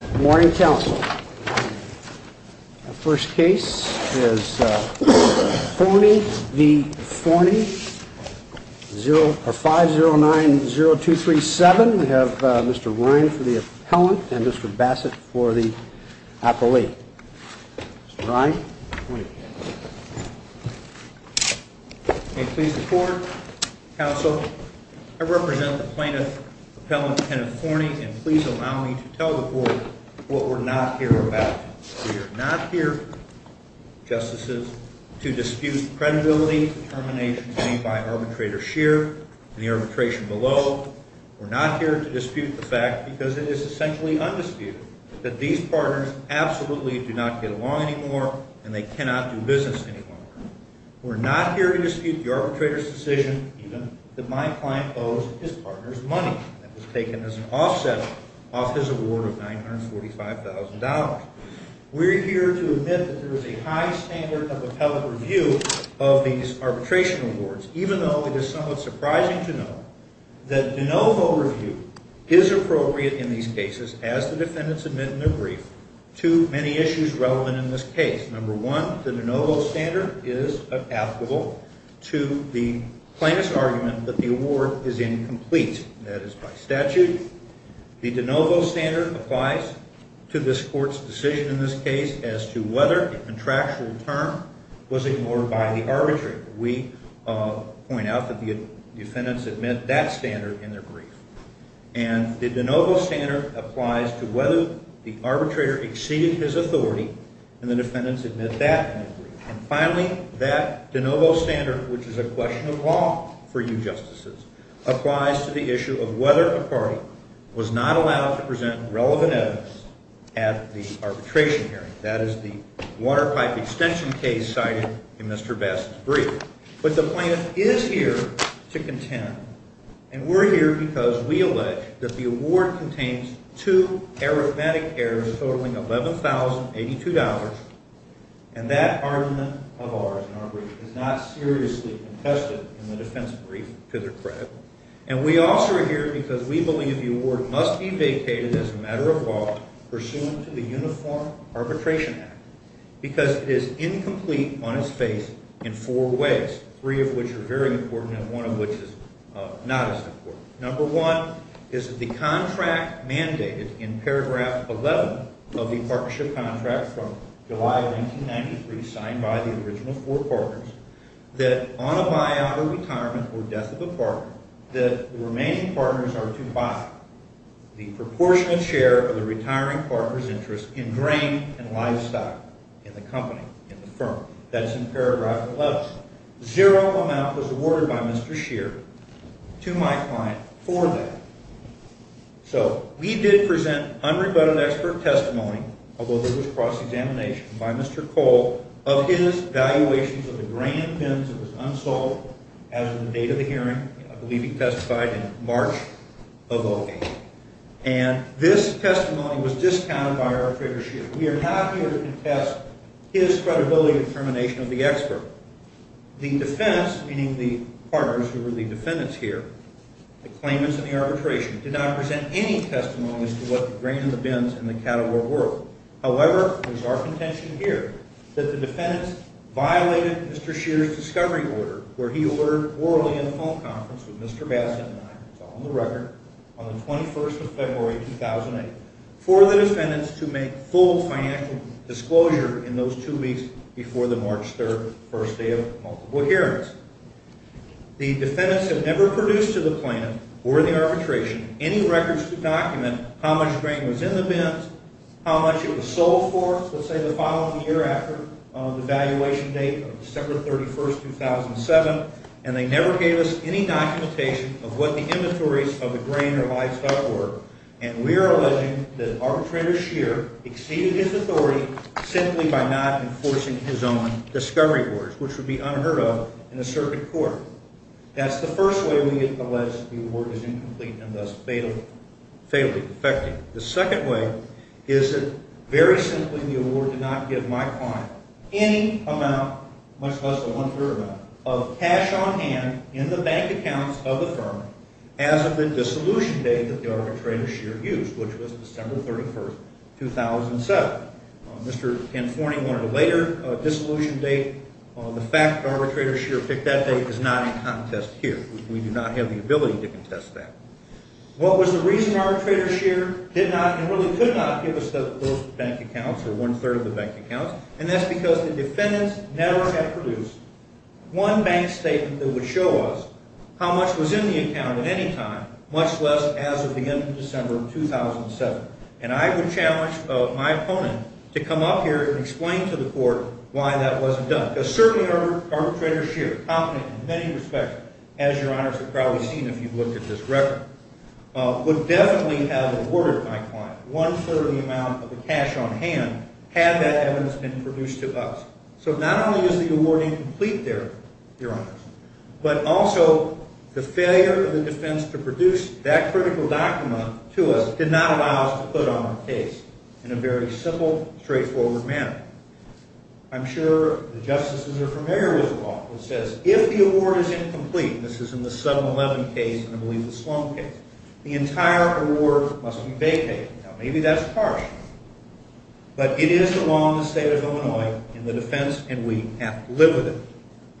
Good morning, council. The first case is Fournie v. Fournie, 5090237. We have Mr. Ryan for the appellant and Mr. Bassett for the appellate. Mr. Ryan. Please report, counsel. I represent the plaintiff, appellant Kenneth Fournie, and please allow me to tell the court what we're not here about. We are not here, justices, to dispute the credibility determination made by arbitrator Scheer and the arbitration below. We're not here to dispute the fact, because it is essentially undisputed, that these partners absolutely do not get along anymore and they cannot do business anymore. We're not here to dispute the arbitrator's decision, even, that my client owes his partner's money that was taken as an offset off his award of $945,000. We're here to admit that there is a high standard of appellate review of these arbitration awards, even though it is somewhat surprising to know that de novo review is appropriate in these cases, as the defendants admit in their brief, to many issues relevant in this case. Number one, the de novo standard is applicable to the plaintiff's argument that the award is incomplete. That is by statute. The de novo standard applies to this court's decision in this case as to whether a contractual term was ignored by the arbitrator. We point out that the defendants admit that standard in their brief. And the de novo standard applies to whether the arbitrator exceeded his authority and the defendants admit that in their brief. And finally, that de novo standard, which is a question of law for you justices, applies to the issue of whether a party was not allowed to present relevant evidence at the arbitration hearing. That is the water pipe extension case cited in Mr. Bass's brief. But the plaintiff is here to contend, and we're here because we allege that the award contains two arithmetic errors totaling $11,082, and that argument of ours in our brief is not seriously contested in the defense brief to their credit. And we also are here because we believe the award must be vacated as a matter of law pursuant to the Uniform Arbitration Act because it is incomplete on its face in four ways, three of which are very important and one of which is not as important. Number one is that the contract mandated in paragraph 11 of the partnership contract from July of 1993 signed by the original four partners that on a buyout or retirement or death of a partner that the remaining partners are to buy the proportional share of the retiring partner's interest in grain and livestock in the company, in the firm. That's in paragraph 11. Zero amount was awarded by Mr. Scheer to my client for that. So we did present unrebutted expert testimony, although there was cross-examination, by Mr. Cole of his valuations of the grain bins that was unsold as of the date of the hearing. I believe he testified in March of 2008. And this testimony was discounted by our creditor, Scheer. We are not here to contest his credibility and determination of the expert. The defense, meaning the partners who were the defendants here, the claimants in the arbitration, did not present any testimony as to what the grain in the bins and the cattle were worth. However, there's our contention here that the defendants violated Mr. Scheer's discovery order, where he ordered orally in a phone conference with Mr. Bassett and I, it's all in the record, on the 21st of February, 2008, for the defendants to make full financial disclosure in those two weeks before the March 3rd first day of multiple hearings. The defendants have never produced to the plaintiff or the arbitration any records to document how much grain was in the bins, how much it was sold for, let's say the following year after the valuation date of December 31st, 2007. And they never gave us any documentation of what the inventories of the grain or livestock were. And we are alleging that Arbitrator Scheer exceeded his authority simply by not enforcing his own discovery orders, which would be unheard of in a circuit court. That's the first way we allege the award is incomplete and thus failing, defecting. The second way is that, very simply, the award did not give my client any amount, much less than one-third amount, of cash on hand in the bank accounts of the firm as of the dissolution date that the Arbitrator Scheer used, which was December 31st, 2007. Mr. Panforni wanted a later dissolution date. The fact that Arbitrator Scheer picked that date is not in contest here. We do not have the ability to contest that. What was the reason Arbitrator Scheer did not and really could not give us the first bank accounts or one-third of the bank accounts? And that's because the defendants never had produced one bank statement that would show us how much was in the account at any time, much less as of the end of December 2007. And I would challenge my opponent to come up here and explain to the court why that wasn't done. Because certainly Arbitrator Scheer, confident in many respects, as Your Honors have probably seen if you've looked at this record, would definitely have awarded my client one-third of the amount of the cash on hand had that evidence been produced to us. So not only is the award incomplete there, Your Honors, but also the failure of the defense to produce that critical document to us did not allow us to put on the case in a very simple, straightforward manner. I'm sure the justices are familiar with the law that says if the award is incomplete, this is in the 7-11 case and I believe the Sloan case, the entire award must be vacated. Now maybe that's harsh, but it is the law in the state of Illinois in the defense and we have to live with it.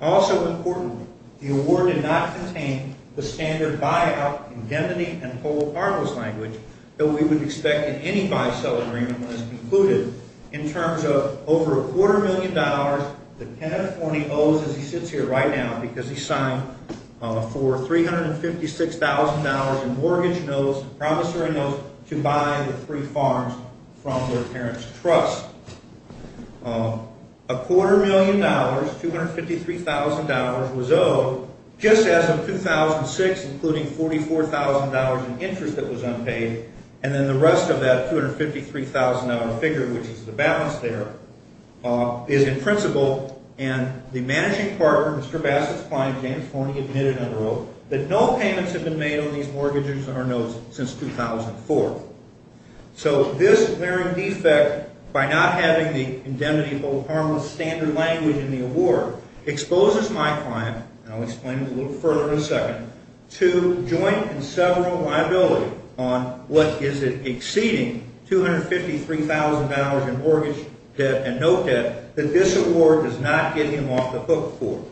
Also importantly, the award did not contain the standard buyout indemnity and whole partners language that we would expect in any buy-sell agreement when it's concluded. In terms of over a quarter million dollars that Kenneth Horney owes as he sits here right now because he signed for $356,000 in mortgage notes, promissory notes, to buy the three farms from their parents' trust. A quarter million dollars, $253,000, was owed just as of 2006, including $44,000 in interest that was unpaid and then the rest of that $253,000 figure, which is the balance there, is in principle. And the managing partner, Mr. Bassett's client, James Horney, admitted under oath that no payments have been made on these mortgages or notes since 2004. So this apparent defect, by not having the indemnity whole partner standard language in the award, exposes my client, and I'll explain it a little further in a second, to joint and several liability on what is an exceeding $253,000 in mortgage debt and note debt that this award does not get him off the hook for.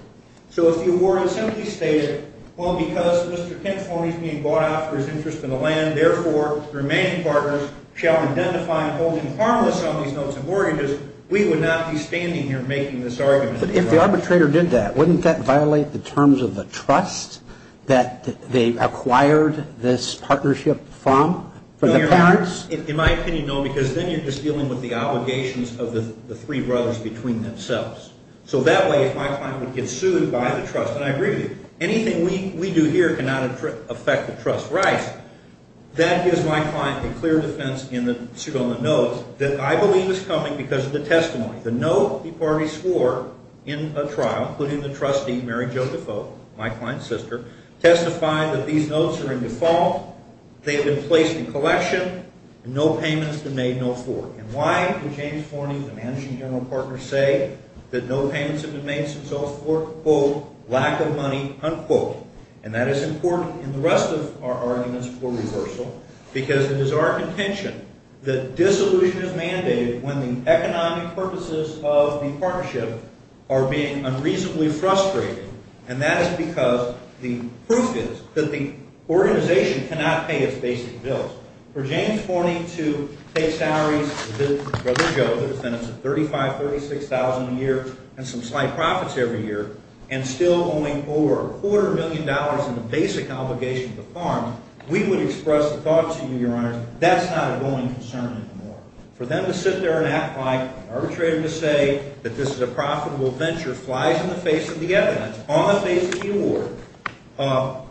So if the award had simply stated, well, because Mr. Kenneth Horney is being bought off for his interest in the land, therefore, the remaining partners shall identify and hold him harmless on these notes and mortgages, we would not be standing here making this argument. But if the arbitrator did that, wouldn't that violate the terms of the trust that they acquired this partnership from, from the parents? In my opinion, no, because then you're just dealing with the obligations of the three brothers between themselves. So that way, my client would get sued by the trust, and I agree with you. Anything we do here cannot affect the trust rights. That gives my client a clear defense in the suit on the notes that I believe is coming because of the testimony. The note he partly swore in a trial, including the trustee, Mary Jo Defoe, my client's sister, testifying that these notes are in default, they have been placed in collection, and no payments have been made, no forth. And why would James Horney, the managing general partner, say that no payments have been made since 2004? Quote, lack of money, unquote. And that is important in the rest of our arguments for reversal because it is our contention that dissolution is mandated when the economic purposes of the partnership are being unreasonably frustrated, and that is because the proof is that the organization cannot pay its basic bills. For James Horney to pay salaries to his brother, Joe, who spends $35,000, $36,000 a year, and some slight profits every year, and still owing over a quarter million dollars in the basic obligation to the farm, we would express the thought to you, Your Honor, that's not a going concern anymore. For them to sit there and act like an arbitrator to say that this is a profitable venture flies in the face of the evidence, on the face of the award,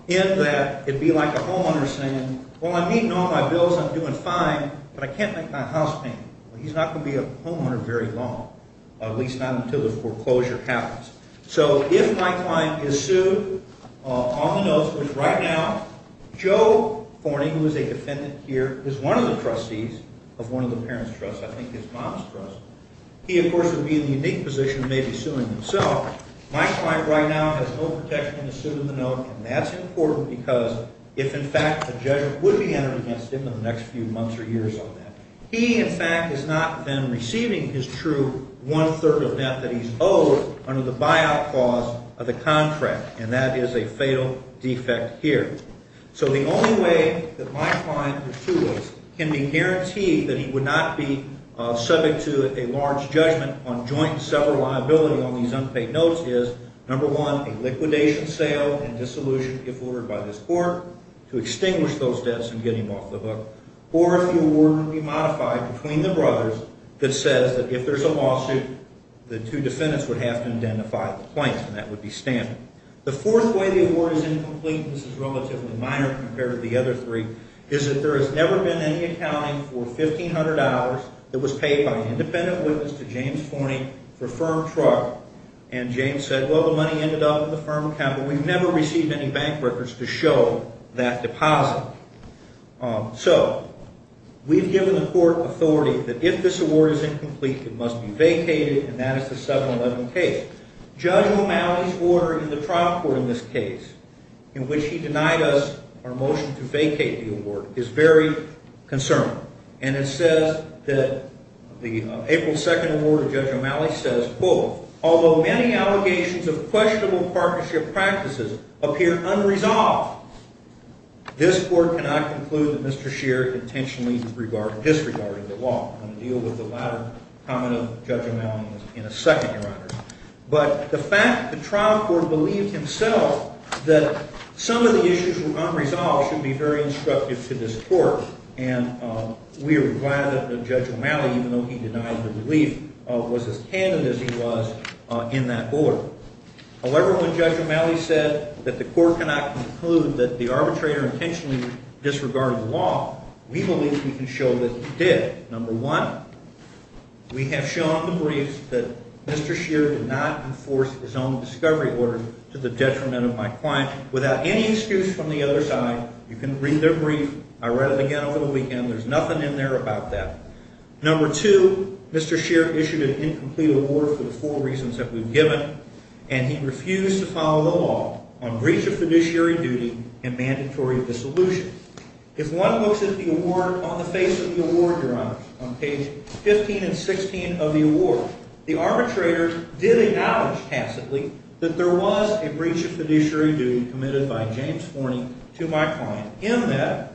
in that it would be like a homeowner saying, well, I'm meeting all my bills, I'm doing fine, but I can't make my house payment. Well, he's not going to be a homeowner very long, at least not until the foreclosure happens. So if my client is sued on the notice, which right now Joe Horney, who is a defendant here, is one of the trustees of one of the parents' trusts, I think his mom's trust, he, of course, would be in the unique position of maybe suing himself. My client right now has no protection in the suit of the note, and that's important because if, in fact, the judge would be entering against him in the next few months or years on that, he, in fact, is not then receiving his true one-third of debt that he's owed under the buyout clause of the contract, and that is a fatal defect here. So the only way that my client can be guaranteed that he would not be subject to a large judgment on joint seller liability on these unpaid notes is, number one, a liquidation sale and dissolution, if ordered by this court, to extinguish those debts and get him off the hook, or if the award could be modified between the brothers that says that if there's a lawsuit, the two defendants would have to identify the plaintiff, and that would be standard. The fourth way the award is incomplete, and this is relatively minor compared to the other three, is that there has never been any accounting for $1,500 that was paid by an independent witness to James Forney for firm truck, and James said, well, the money ended up in the firm account, but we've never received any bank records to show that deposit. So we've given the court authority that if this award is incomplete, it must be vacated, and that is the 7-11 case. Judge O'Malley's order in the trial court in this case, in which he denied us our motion to vacate the award, is very concerning, and it says that the April 2nd award of Judge O'Malley says, quote, although many allegations of questionable partnership practices appear unresolved, this court cannot conclude that Mr. Scheer intentionally disregarded the law. I'm going to deal with the latter comment of Judge O'Malley in a second, Your Honor. But the fact that the trial court believed himself that some of the issues were unresolved should be very instructive to this court, and we are glad that Judge O'Malley, even though he denied the belief, was as candid as he was in that board. However, when Judge O'Malley said that the court cannot conclude that the arbitrator intentionally disregarded the law, we believe we can show that he did. Number one, we have shown the briefs that Mr. Scheer did not enforce his own discovery order to the detriment of my client, without any excuse from the other side. You can read their brief. I read it again over the weekend. There's nothing in there about that. Number two, Mr. Scheer issued an incomplete award for the four reasons that we've given, and he refused to follow the law on breach of fiduciary duty and mandatory dissolution. If one looks at the award on the face of the award, Your Honor, on page 15 and 16 of the award, the arbitrator did acknowledge tacitly that there was a breach of fiduciary duty committed by James Forney to my client, in that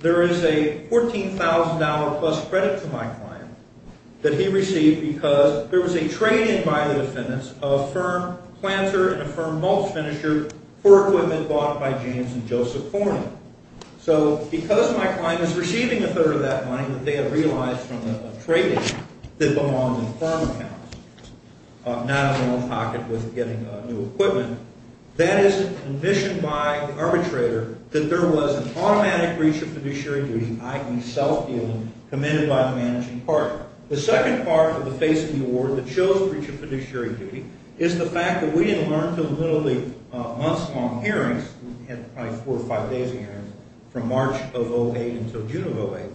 there is a $14,000-plus credit to my client that he received because there was a trade-in by the defendants of a firm planter and a firm mulch finisher for equipment bought by James and Joseph Forney. So because my client is receiving a third of that money that they had realized from a trade-in that belonged in firm accounts, not in their own pocket with getting new equipment, that is a condition by the arbitrator that there was an automatic breach of fiduciary duty, i.e. self-dealing, committed by the managing partner. The second part of the face of the award that shows breach of fiduciary duty is the fact that we didn't learn until the months-long hearings, probably four or five days of hearings, from March of 08 until June of 08,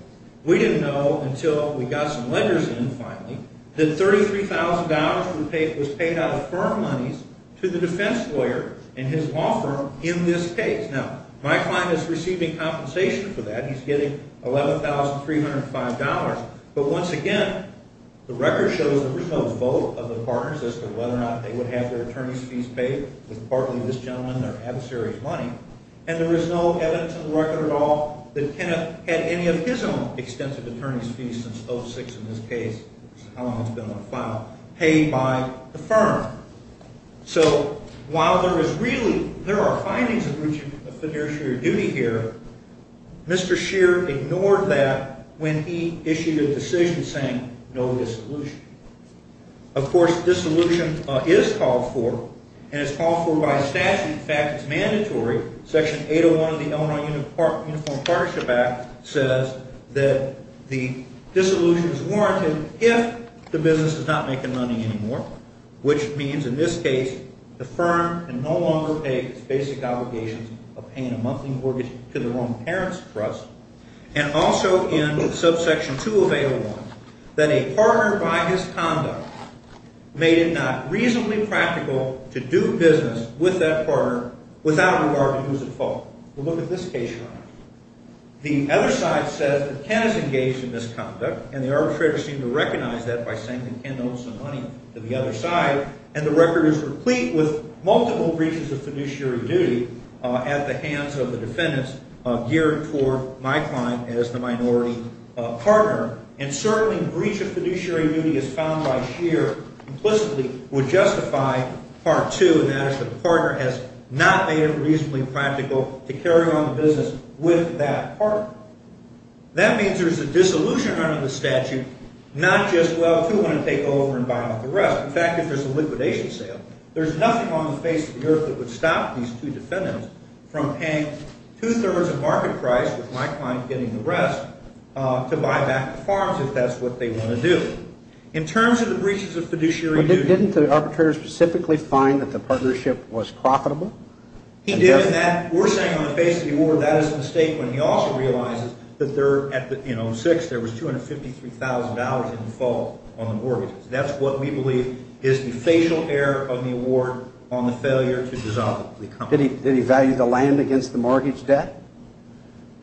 we didn't know until we got some letters in, finally, that $33,000 was paid out of firm monies to the defense lawyer and his law firm in this case. Now, my client is receiving compensation for that. He's getting $11,305, but once again, the record shows there was no vote of the partners as to whether or not they would have their attorney's fees paid with partly this gentleman and their adversary's money, and there is no evidence in the record at all that Kenneth had any of his own extensive attorney's fees since 06 in this case, which is how long he's been on file, paid by the firm. So while there are findings of breach of fiduciary duty here, Mr. Scheer ignored that when he issued a decision saying no dissolution. Of course, dissolution is called for, and it's called for by statute. In fact, it's mandatory. Section 801 of the Illinois Uniform Partnership Act says that the dissolution is warranted if the business is not making money anymore, which means in this case the firm can no longer pay its basic obligations of paying a monthly mortgage to their own parents' trust, and also in subsection 2 of 801, that a partner by his conduct made it not reasonably practical to do business with that partner without a reward if he was at fault. We'll look at this case here. The other side says that Ken has engaged in misconduct, and the arbitrator seemed to recognize that by saying that Ken owed some money to the other side, and the record is replete with multiple breaches of fiduciary duty at the hands of the defendants geared toward my client as the minority partner, and certainly a breach of fiduciary duty as found by Scheer implicitly would justify Part 2, and that is that the partner has not made it reasonably practical to carry on the business with that partner. That means there's a dissolution under the statute, not just, well, who would want to take over and buy off the rest? In fact, if there's a liquidation sale, there's nothing on the face of the earth that would stop these two defendants from paying two-thirds of market price, with my client getting the rest, to buy back the farms if that's what they want to do. In terms of the breaches of fiduciary duty- But didn't the arbitrator specifically find that the partnership was profitable? He did, and we're saying on the face of the order that is a mistake, when he also realizes that in 06 there was $253,000 in default on the mortgages. That's what we believe is the facial error of the award on the failure to dissolve the company. Did he value the land against the mortgage debt?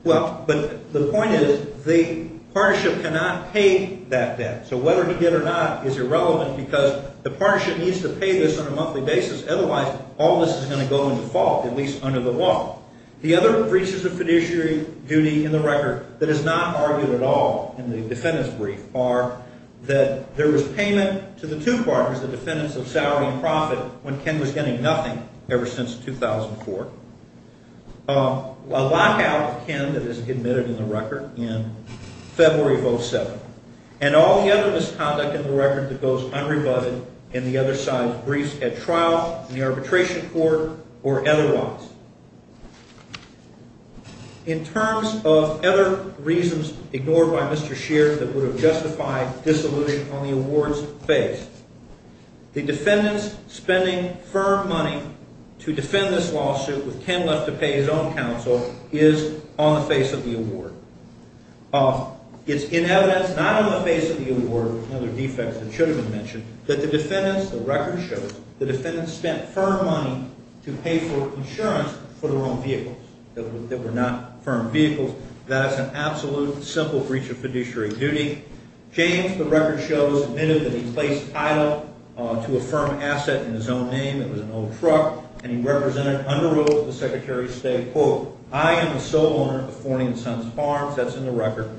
Well, but the point is the partnership cannot pay that debt, so whether he did or not is irrelevant because the partnership needs to pay this on a monthly basis, otherwise all this is going to go in default, at least under the law. The other breaches of fiduciary duty in the record that is not argued at all in the defendant's brief are that there was payment to the two partners, the defendants of salary and profit, when Ken was getting nothing ever since 2004, a lockout of Ken that is admitted in the record in February of 07, and all the other misconduct in the record that goes unrebutted in the other side's briefs at trial, in the arbitration court, or otherwise. In terms of other reasons ignored by Mr. Scheer that would have justified disillusion on the award's face, the defendant's spending firm money to defend this lawsuit with Ken left to pay his own counsel is on the face of the award. It's in evidence not on the face of the award, another defect that should have been mentioned, that the defendants, the record shows, the defendants spent firm money to pay for insurance for their own vehicles that were not firm vehicles. That is an absolute, simple breach of fiduciary duty. James, the record shows, admitted that he placed idle to a firm asset in his own name, it was an old truck, and he represented under oath the Secretary of State, quote, I am the sole owner of Fourney and Sons Farms, that's in the record.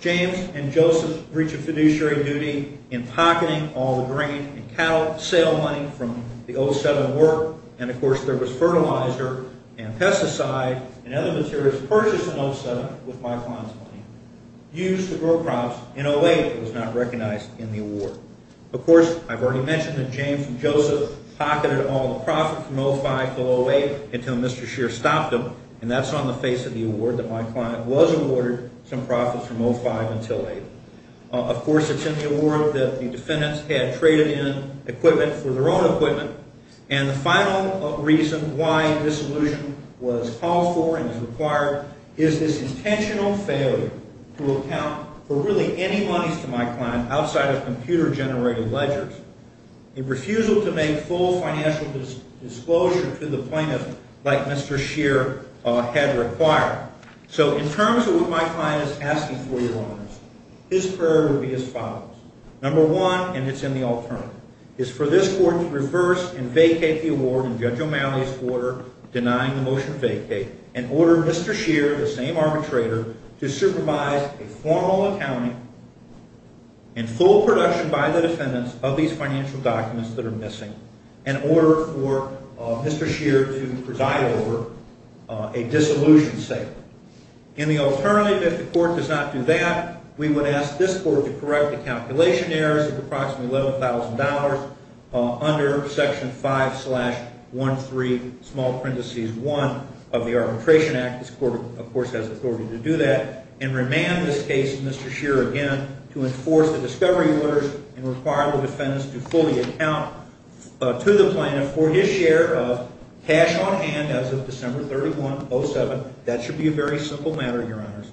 James and Joseph's breach of fiduciary duty in pocketing all the grain and cattle sale money from the 07 award, and of course there was fertilizer and pesticide and other materials purchased in 07 with my client's money, used to grow crops in 08 that was not recognized in the award. Of course, I've already mentioned that James and Joseph pocketed all the profit from 05 to 08 until Mr. Scheer stopped them, and that's on the face of the award that my client was awarded some profits from 05 until 08. Of course, it's in the award that the defendants had traded in equipment for their own equipment, and the final reason why this allusion was called for and is required is this intentional failure to account for really any monies to my client outside of computer-generated ledgers. A refusal to make full financial disclosure to the plaintiff like Mr. Scheer had required. So in terms of what my client is asking for, Your Honors, his prayer would be as follows. Number one, and it's in the alternative, is for this court to reverse and vacate the award in Judge O'Malley's order, denying the motion to vacate, and order Mr. Scheer, the same arbitrator, to supervise a formal accounting in full production by the defendants of these financial documents that are missing in order for Mr. Scheer to preside over a disillusion sale. In the alternative, if the court does not do that, we would ask this court to correct the calculation errors of approximately $11,000 under Section 5-13, small parenthesis 1 of the Arbitration Act. This court, of course, has authority to do that. And remand this case to Mr. Scheer again to enforce the discovery orders and require the defendants to fully account to the plaintiff for his share of cash on hand as of December 31, 07. That should be a very simple matter, Your Honors.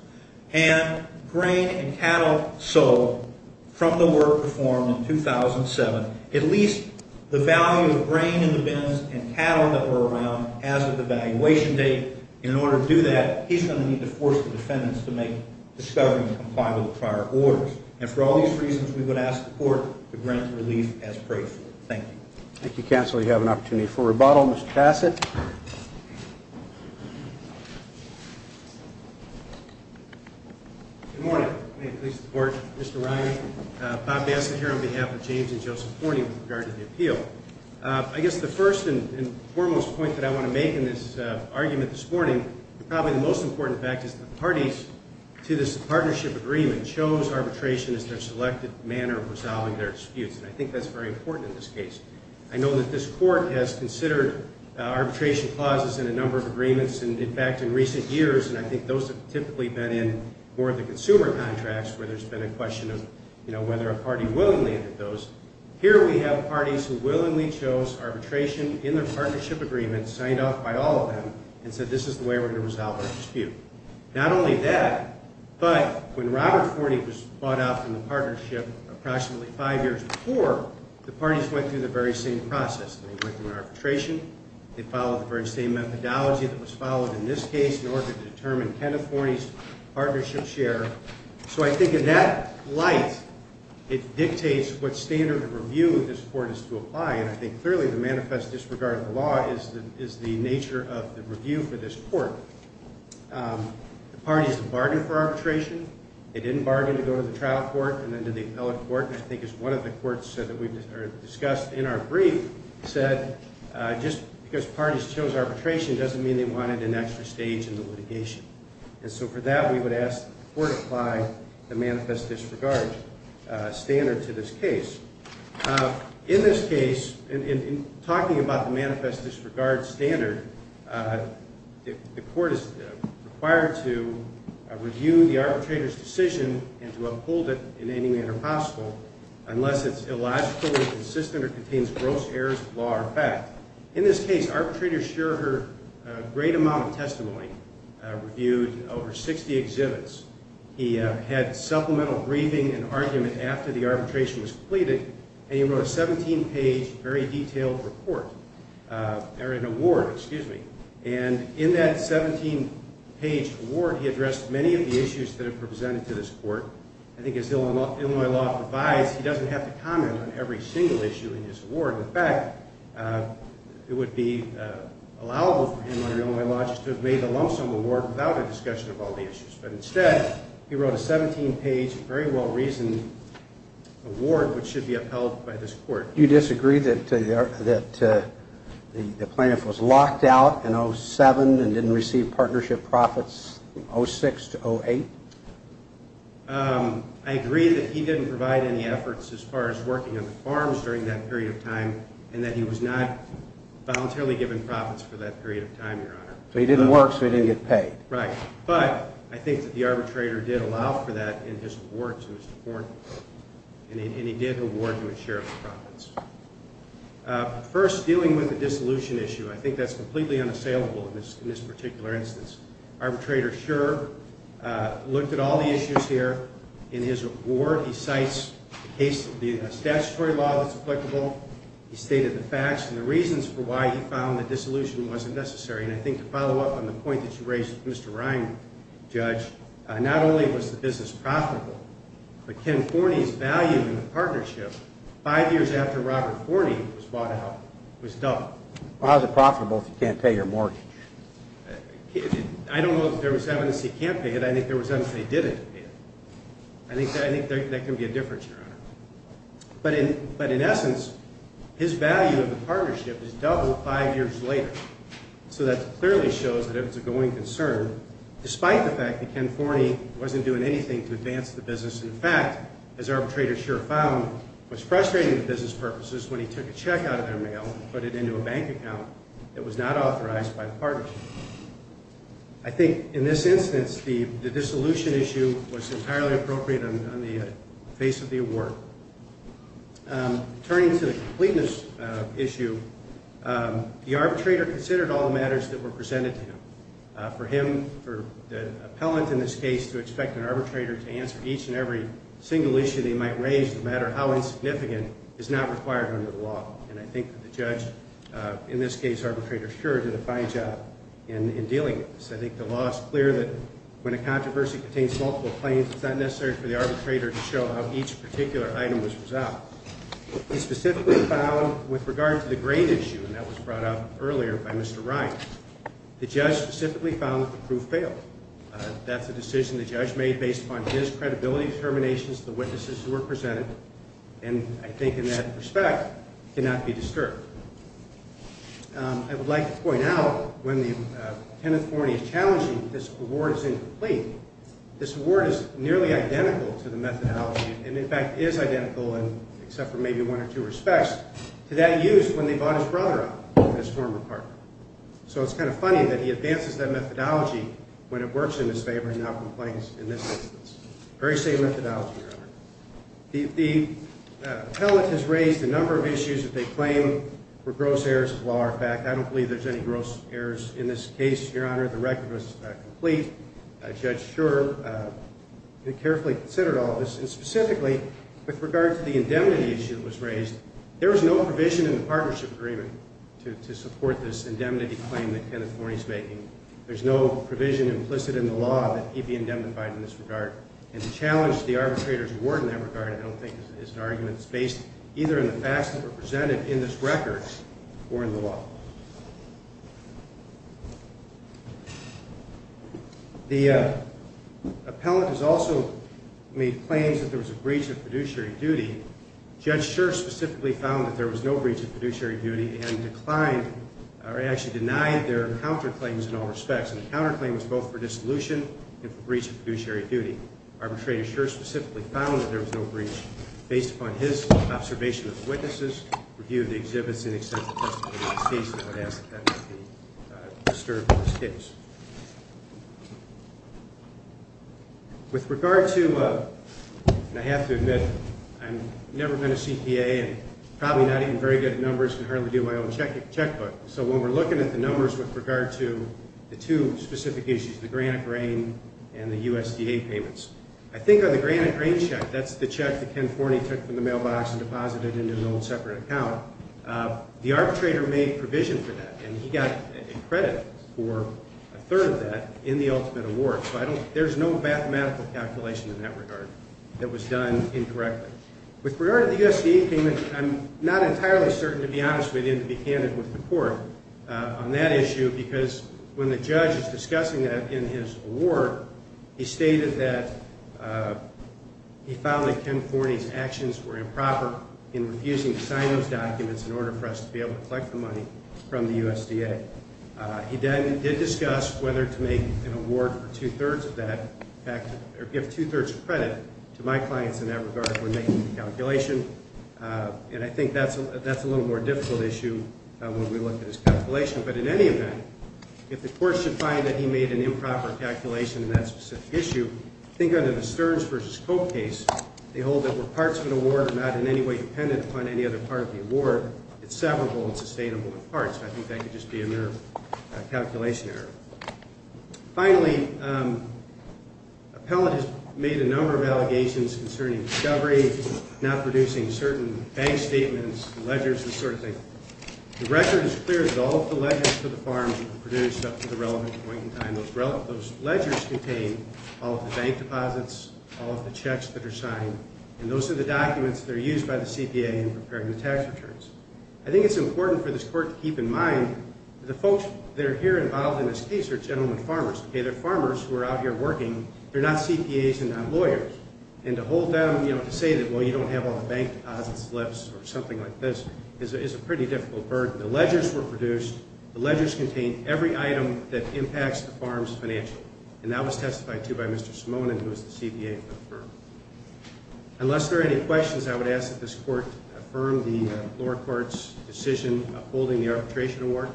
And grain and cattle sold from the work performed in 2007, at least the value of grain in the bins and cattle that were around as of the valuation date, in order to do that, he's going to need to force the defendants to make discovery and comply with the prior orders. And for all these reasons, we would ask the court to grant relief as prayed for. Thank you. Thank you, Counselor. You have an opportunity for rebuttal. Mr. Bassett. Good morning. May it please the Court, Mr. Ryan. Bob Bassett here on behalf of James and Joseph Horney with regard to the appeal. I guess the first and foremost point that I want to make in this argument this morning, probably the most important fact is that the parties to this partnership agreement chose arbitration as their selected manner of resolving their disputes, and I think that's very important in this case. I know that this Court has considered arbitration clauses in a number of agreements, and, in fact, in recent years, and I think those have typically been in more of the consumer contracts where there's been a question of, you know, whether a party willingly entered those. Here we have parties who willingly chose arbitration in their partnership agreement, signed off by all of them, and said this is the way we're going to resolve our dispute. Not only that, but when Robert Horney was bought out from the partnership approximately five years before, the parties went through the very same process. They went through an arbitration. They followed the very same methodology that was followed in this case in order to determine Kenneth Horney's partnership share. So I think in that light, it dictates what standard of review this Court is to apply, and I think clearly the manifest disregard of the law is the nature of the review for this Court. The parties bargained for arbitration. They didn't bargain to go to the trial court and then to the appellate court, and I think it's one of the courts that we've discussed in our brief said just because parties chose arbitration doesn't mean they wanted an extra stage in the litigation. And so for that, we would ask that the Court apply the manifest disregard standard to this case. In this case, in talking about the manifest disregard standard, the Court is required to review the arbitrator's decision and to uphold it in any manner possible unless it's illogical, inconsistent, or contains gross errors of law or fact. In this case, arbitrators share a great amount of testimony, reviewed over 60 exhibits. He had supplemental briefing and argument after the arbitration was completed, and he wrote a 17-page, very detailed report, or an award, excuse me. And in that 17-page award, he addressed many of the issues that are presented to this Court. I think as Illinois law provides, he doesn't have to comment on every single issue in his award. In fact, it would be allowable for him under Illinois law just to have made a lump sum award without a discussion of all the issues. But instead, he wrote a 17-page, very well-reasoned award, which should be upheld by this Court. Do you disagree that the plaintiff was locked out in 07 and didn't receive partnership profits from 06 to 08? I agree that he didn't provide any efforts as far as working on the farms during that period of time and that he was not voluntarily given profits for that period of time, Your Honor. So he didn't work, so he didn't get paid. Right. But I think that the arbitrator did allow for that in his award to his court, and he did award him a share of the profits. First, dealing with the dissolution issue, I think that's completely unassailable in this particular instance. Arbitrator Scherr looked at all the issues here in his award. He cites the statutory law that's applicable. He stated the facts and the reasons for why he found the dissolution wasn't necessary. And I think to follow up on the point that you raised with Mr. Ryan, Judge, not only was the business profitable, but Ken Forney's value in the partnership, five years after Robert Forney was bought out, was doubled. Well, how is it profitable if you can't pay your mortgage? I don't know that there was evidence he can't pay it. I think there was evidence he didn't pay it. I think that can be a difference, Your Honor. But in essence, his value of the partnership is doubled five years later. So that clearly shows that it was a going concern, despite the fact that Ken Forney wasn't doing anything to advance the business. In fact, as arbitrator Scherr found, was frustrating to business purposes when he took a check out of their mail and put it into a bank account that was not authorized by the partnership. I think in this instance the dissolution issue was entirely appropriate on the face of the award. Turning to the completeness issue, the arbitrator considered all the matters that were presented to him. For him, for the appellant in this case to expect an arbitrator to answer each and every single issue they might raise, no matter how insignificant, is not required under the law. And I think the judge, in this case arbitrator Scherr, did a fine job in dealing with this. I think the law is clear that when a controversy contains multiple claims, it's not necessary for the arbitrator to show how each particular item was resolved. He specifically found, with regard to the grade issue, and that was brought up earlier by Mr. Ryan, the judge specifically found that the proof failed. That's a decision the judge made based upon his credibility, determinations of the witnesses who were presented, and I think in that respect cannot be disturbed. I would like to point out, when the tenant foreigner is challenging, this award is incomplete. This award is nearly identical to the methodology, and in fact is identical except for maybe one or two respects, to that used when they bought his brother up as a former partner. So it's kind of funny that he advances that methodology when it works in his favor and now complains in this instance. Very same methodology, Your Honor. The tenant has raised a number of issues that they claim were gross errors of law or fact. I don't believe there's any gross errors in this case, Your Honor. The record was complete. Judge Scherr carefully considered all this, and specifically with regard to the indemnity issue that was raised, there was no provision in the partnership agreement to support this indemnity claim that the tenant foreigner is making. There's no provision implicit in the law that he be indemnified in this regard, and to challenge the arbitrator's award in that regard I don't think is an argument that's based either in the facts that were presented in this record or in the law. The appellant has also made claims that there was a breach of fiduciary duty. Judge Scherr specifically found that there was no breach of fiduciary duty and declined or actually denied their counterclaims in all respects, and the counterclaim was both for dissolution and for breach of fiduciary duty. Arbitrator Scherr specifically found that there was no breach based upon his observation of witnesses, review of the exhibits, and the extent of the testimony that he sees and would ask that that not be disturbed in this case. With regard to, and I have to admit, I've never been a CPA and probably not even very good at numbers and hardly do my own checkbook, so when we're looking at the numbers with regard to the two specific issues, the granite grain and the USDA payments, I think on the granite grain check, that's the check that Ken Forney took from the mailbox and deposited into an old separate account, the arbitrator made provision for that, and he got credit for a third of that in the ultimate award. So there's no mathematical calculation in that regard that was done incorrectly. With regard to the USDA payment, I'm not entirely certain, to be honest with you, to be candid with the court on that issue because when the judge is discussing that in his award, he stated that he found that Ken Forney's actions were improper in refusing to sign those documents in order for us to be able to collect the money from the USDA. He then did discuss whether to make an award for two-thirds of that or give two-thirds of credit to my clients in that regard when making the calculation, and I think that's a little more difficult issue when we look at his calculation. But in any event, if the court should find that he made an improper calculation in that specific issue, I think under the Stearns v. Cope case, they hold that we're parts of an award and not in any way dependent upon any other part of the award. It's severable and sustainable in parts. I think that could just be a mere calculation error. Finally, Appellate has made a number of allegations concerning discovery, not producing certain bank statements, ledgers, this sort of thing. The record is clear that all of the ledgers for the farms were produced up to the relevant point in time. Those ledgers contain all of the bank deposits, all of the checks that are signed, and those are the documents that are used by the CPA in preparing the tax returns. I think it's important for this court to keep in mind that the folks that are here involved in this case are gentlemen farmers, okay? They're farmers who are out here working. They're not CPAs and not lawyers, and to hold them, you know, to say that, well, you don't have all the bank deposits, slips, or something like this is a pretty difficult burden. The ledgers were produced. The ledgers contain every item that impacts the farm's financial, and that was testified to by Mr. Simone, who is the CPA of the firm. Unless there are any questions, I would ask that this court affirm the lower court's decision upholding the arbitration award,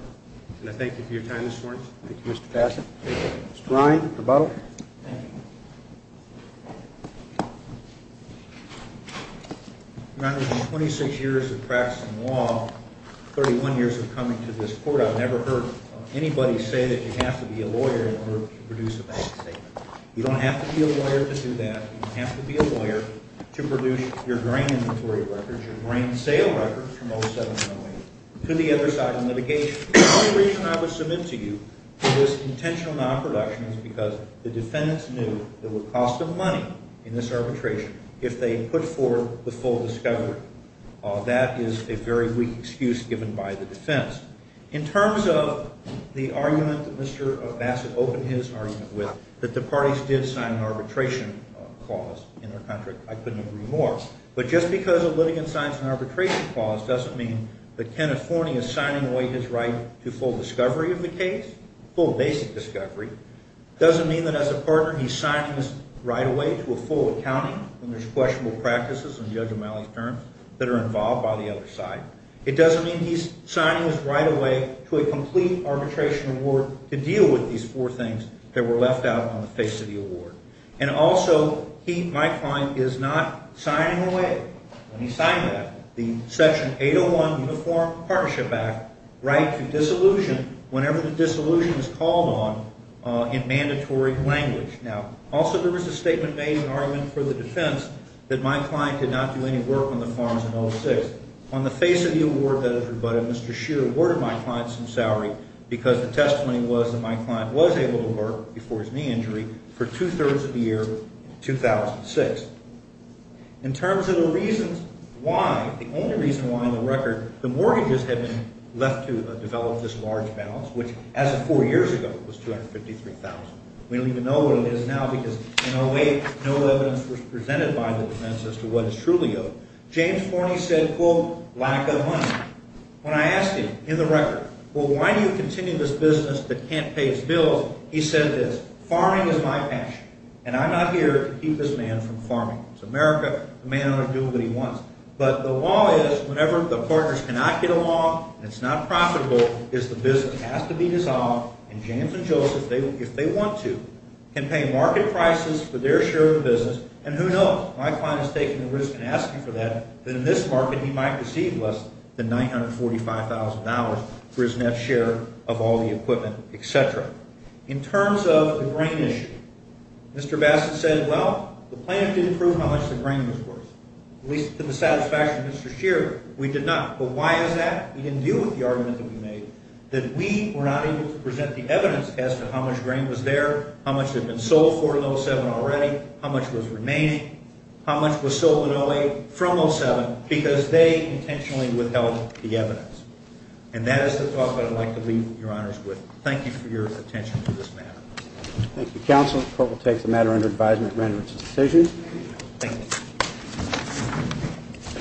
and I thank you for your time this morning. Thank you, Mr. Bassett. Mr. Ryan, the vote. Thank you. In my 26 years of practice in law, 31 years of coming to this court, I've never heard anybody say that you have to be a lawyer in order to produce a bank statement. You don't have to be a lawyer to do that. You don't have to be a lawyer to produce your grain inventory records, your grain sale records from 07-08 to the other side of litigation. The only reason I would submit to you this intentional non-production is because the defendants knew that it would cost them money in this arbitration if they put forth the full discovery. That is a very weak excuse given by the defense. In terms of the argument that Mr. Bassett opened his argument with, that the parties did sign an arbitration clause in their contract, I couldn't agree more. But just because a litigant signs an arbitration clause doesn't mean that Kenneth Forney is signing away his right to full discovery of the case, full basic discovery. It doesn't mean that as a partner he's signing this right away to a full accounting when there's questionable practices in Judge O'Malley's terms that are involved by the other side. It doesn't mean he's signing this right away to a complete arbitration award to deal with these four things that were left out on the face of the award. And also, he, my client, is not signing away, when he signed that, the Section 801 Uniform Partnership Act right to disillusion whenever the disillusion is called on in mandatory language. Now, also there was a statement made in an argument for the defense that my client did not do any work on the farms in 06. On the face of the award that is rebutted, Mr. Shear awarded my client some salary because the testimony was that my client was able to work, before his knee injury, for two-thirds of the year in 2006. In terms of the reasons why, the only reason why, on the record, the mortgages had been left to develop this large balance, which, as of four years ago, was $253,000. We don't even know what it is now because in 08 no evidence was presented by the defense as to what it's truly owed. James Forney said, quote, lack of money. When I asked him, in the record, well, why do you continue this business that can't pay its bills, he said this, farming is my passion, and I'm not here to keep this man from farming. It's America, the man ought to do what he wants. But the law is, whenever the partners cannot get along and it's not profitable, is the business has to be dissolved, and James and Joseph, if they want to, can pay market prices for their share of the business, and who knows, my client is taking the risk and asking for that, then in this market he might receive less than $945,000 for his next share of all the equipment, et cetera. In terms of the grain issue, Mr. Bassett said, well, the plan didn't prove how much the grain was worth. At least to the satisfaction of Mr. Shearer, we did not. But why is that? He didn't deal with the argument that we made, that we were not able to present the evidence as to how much grain was there, how much had been sold for in 07 already, how much was remaining, how much was sold in 08 from 07, because they intentionally withheld the evidence. And that is the talk that I'd like to leave your honors with. Thank you for your attention to this matter. Thank you, Counsel. The court will take the matter under advisement and render its decision. Thank you.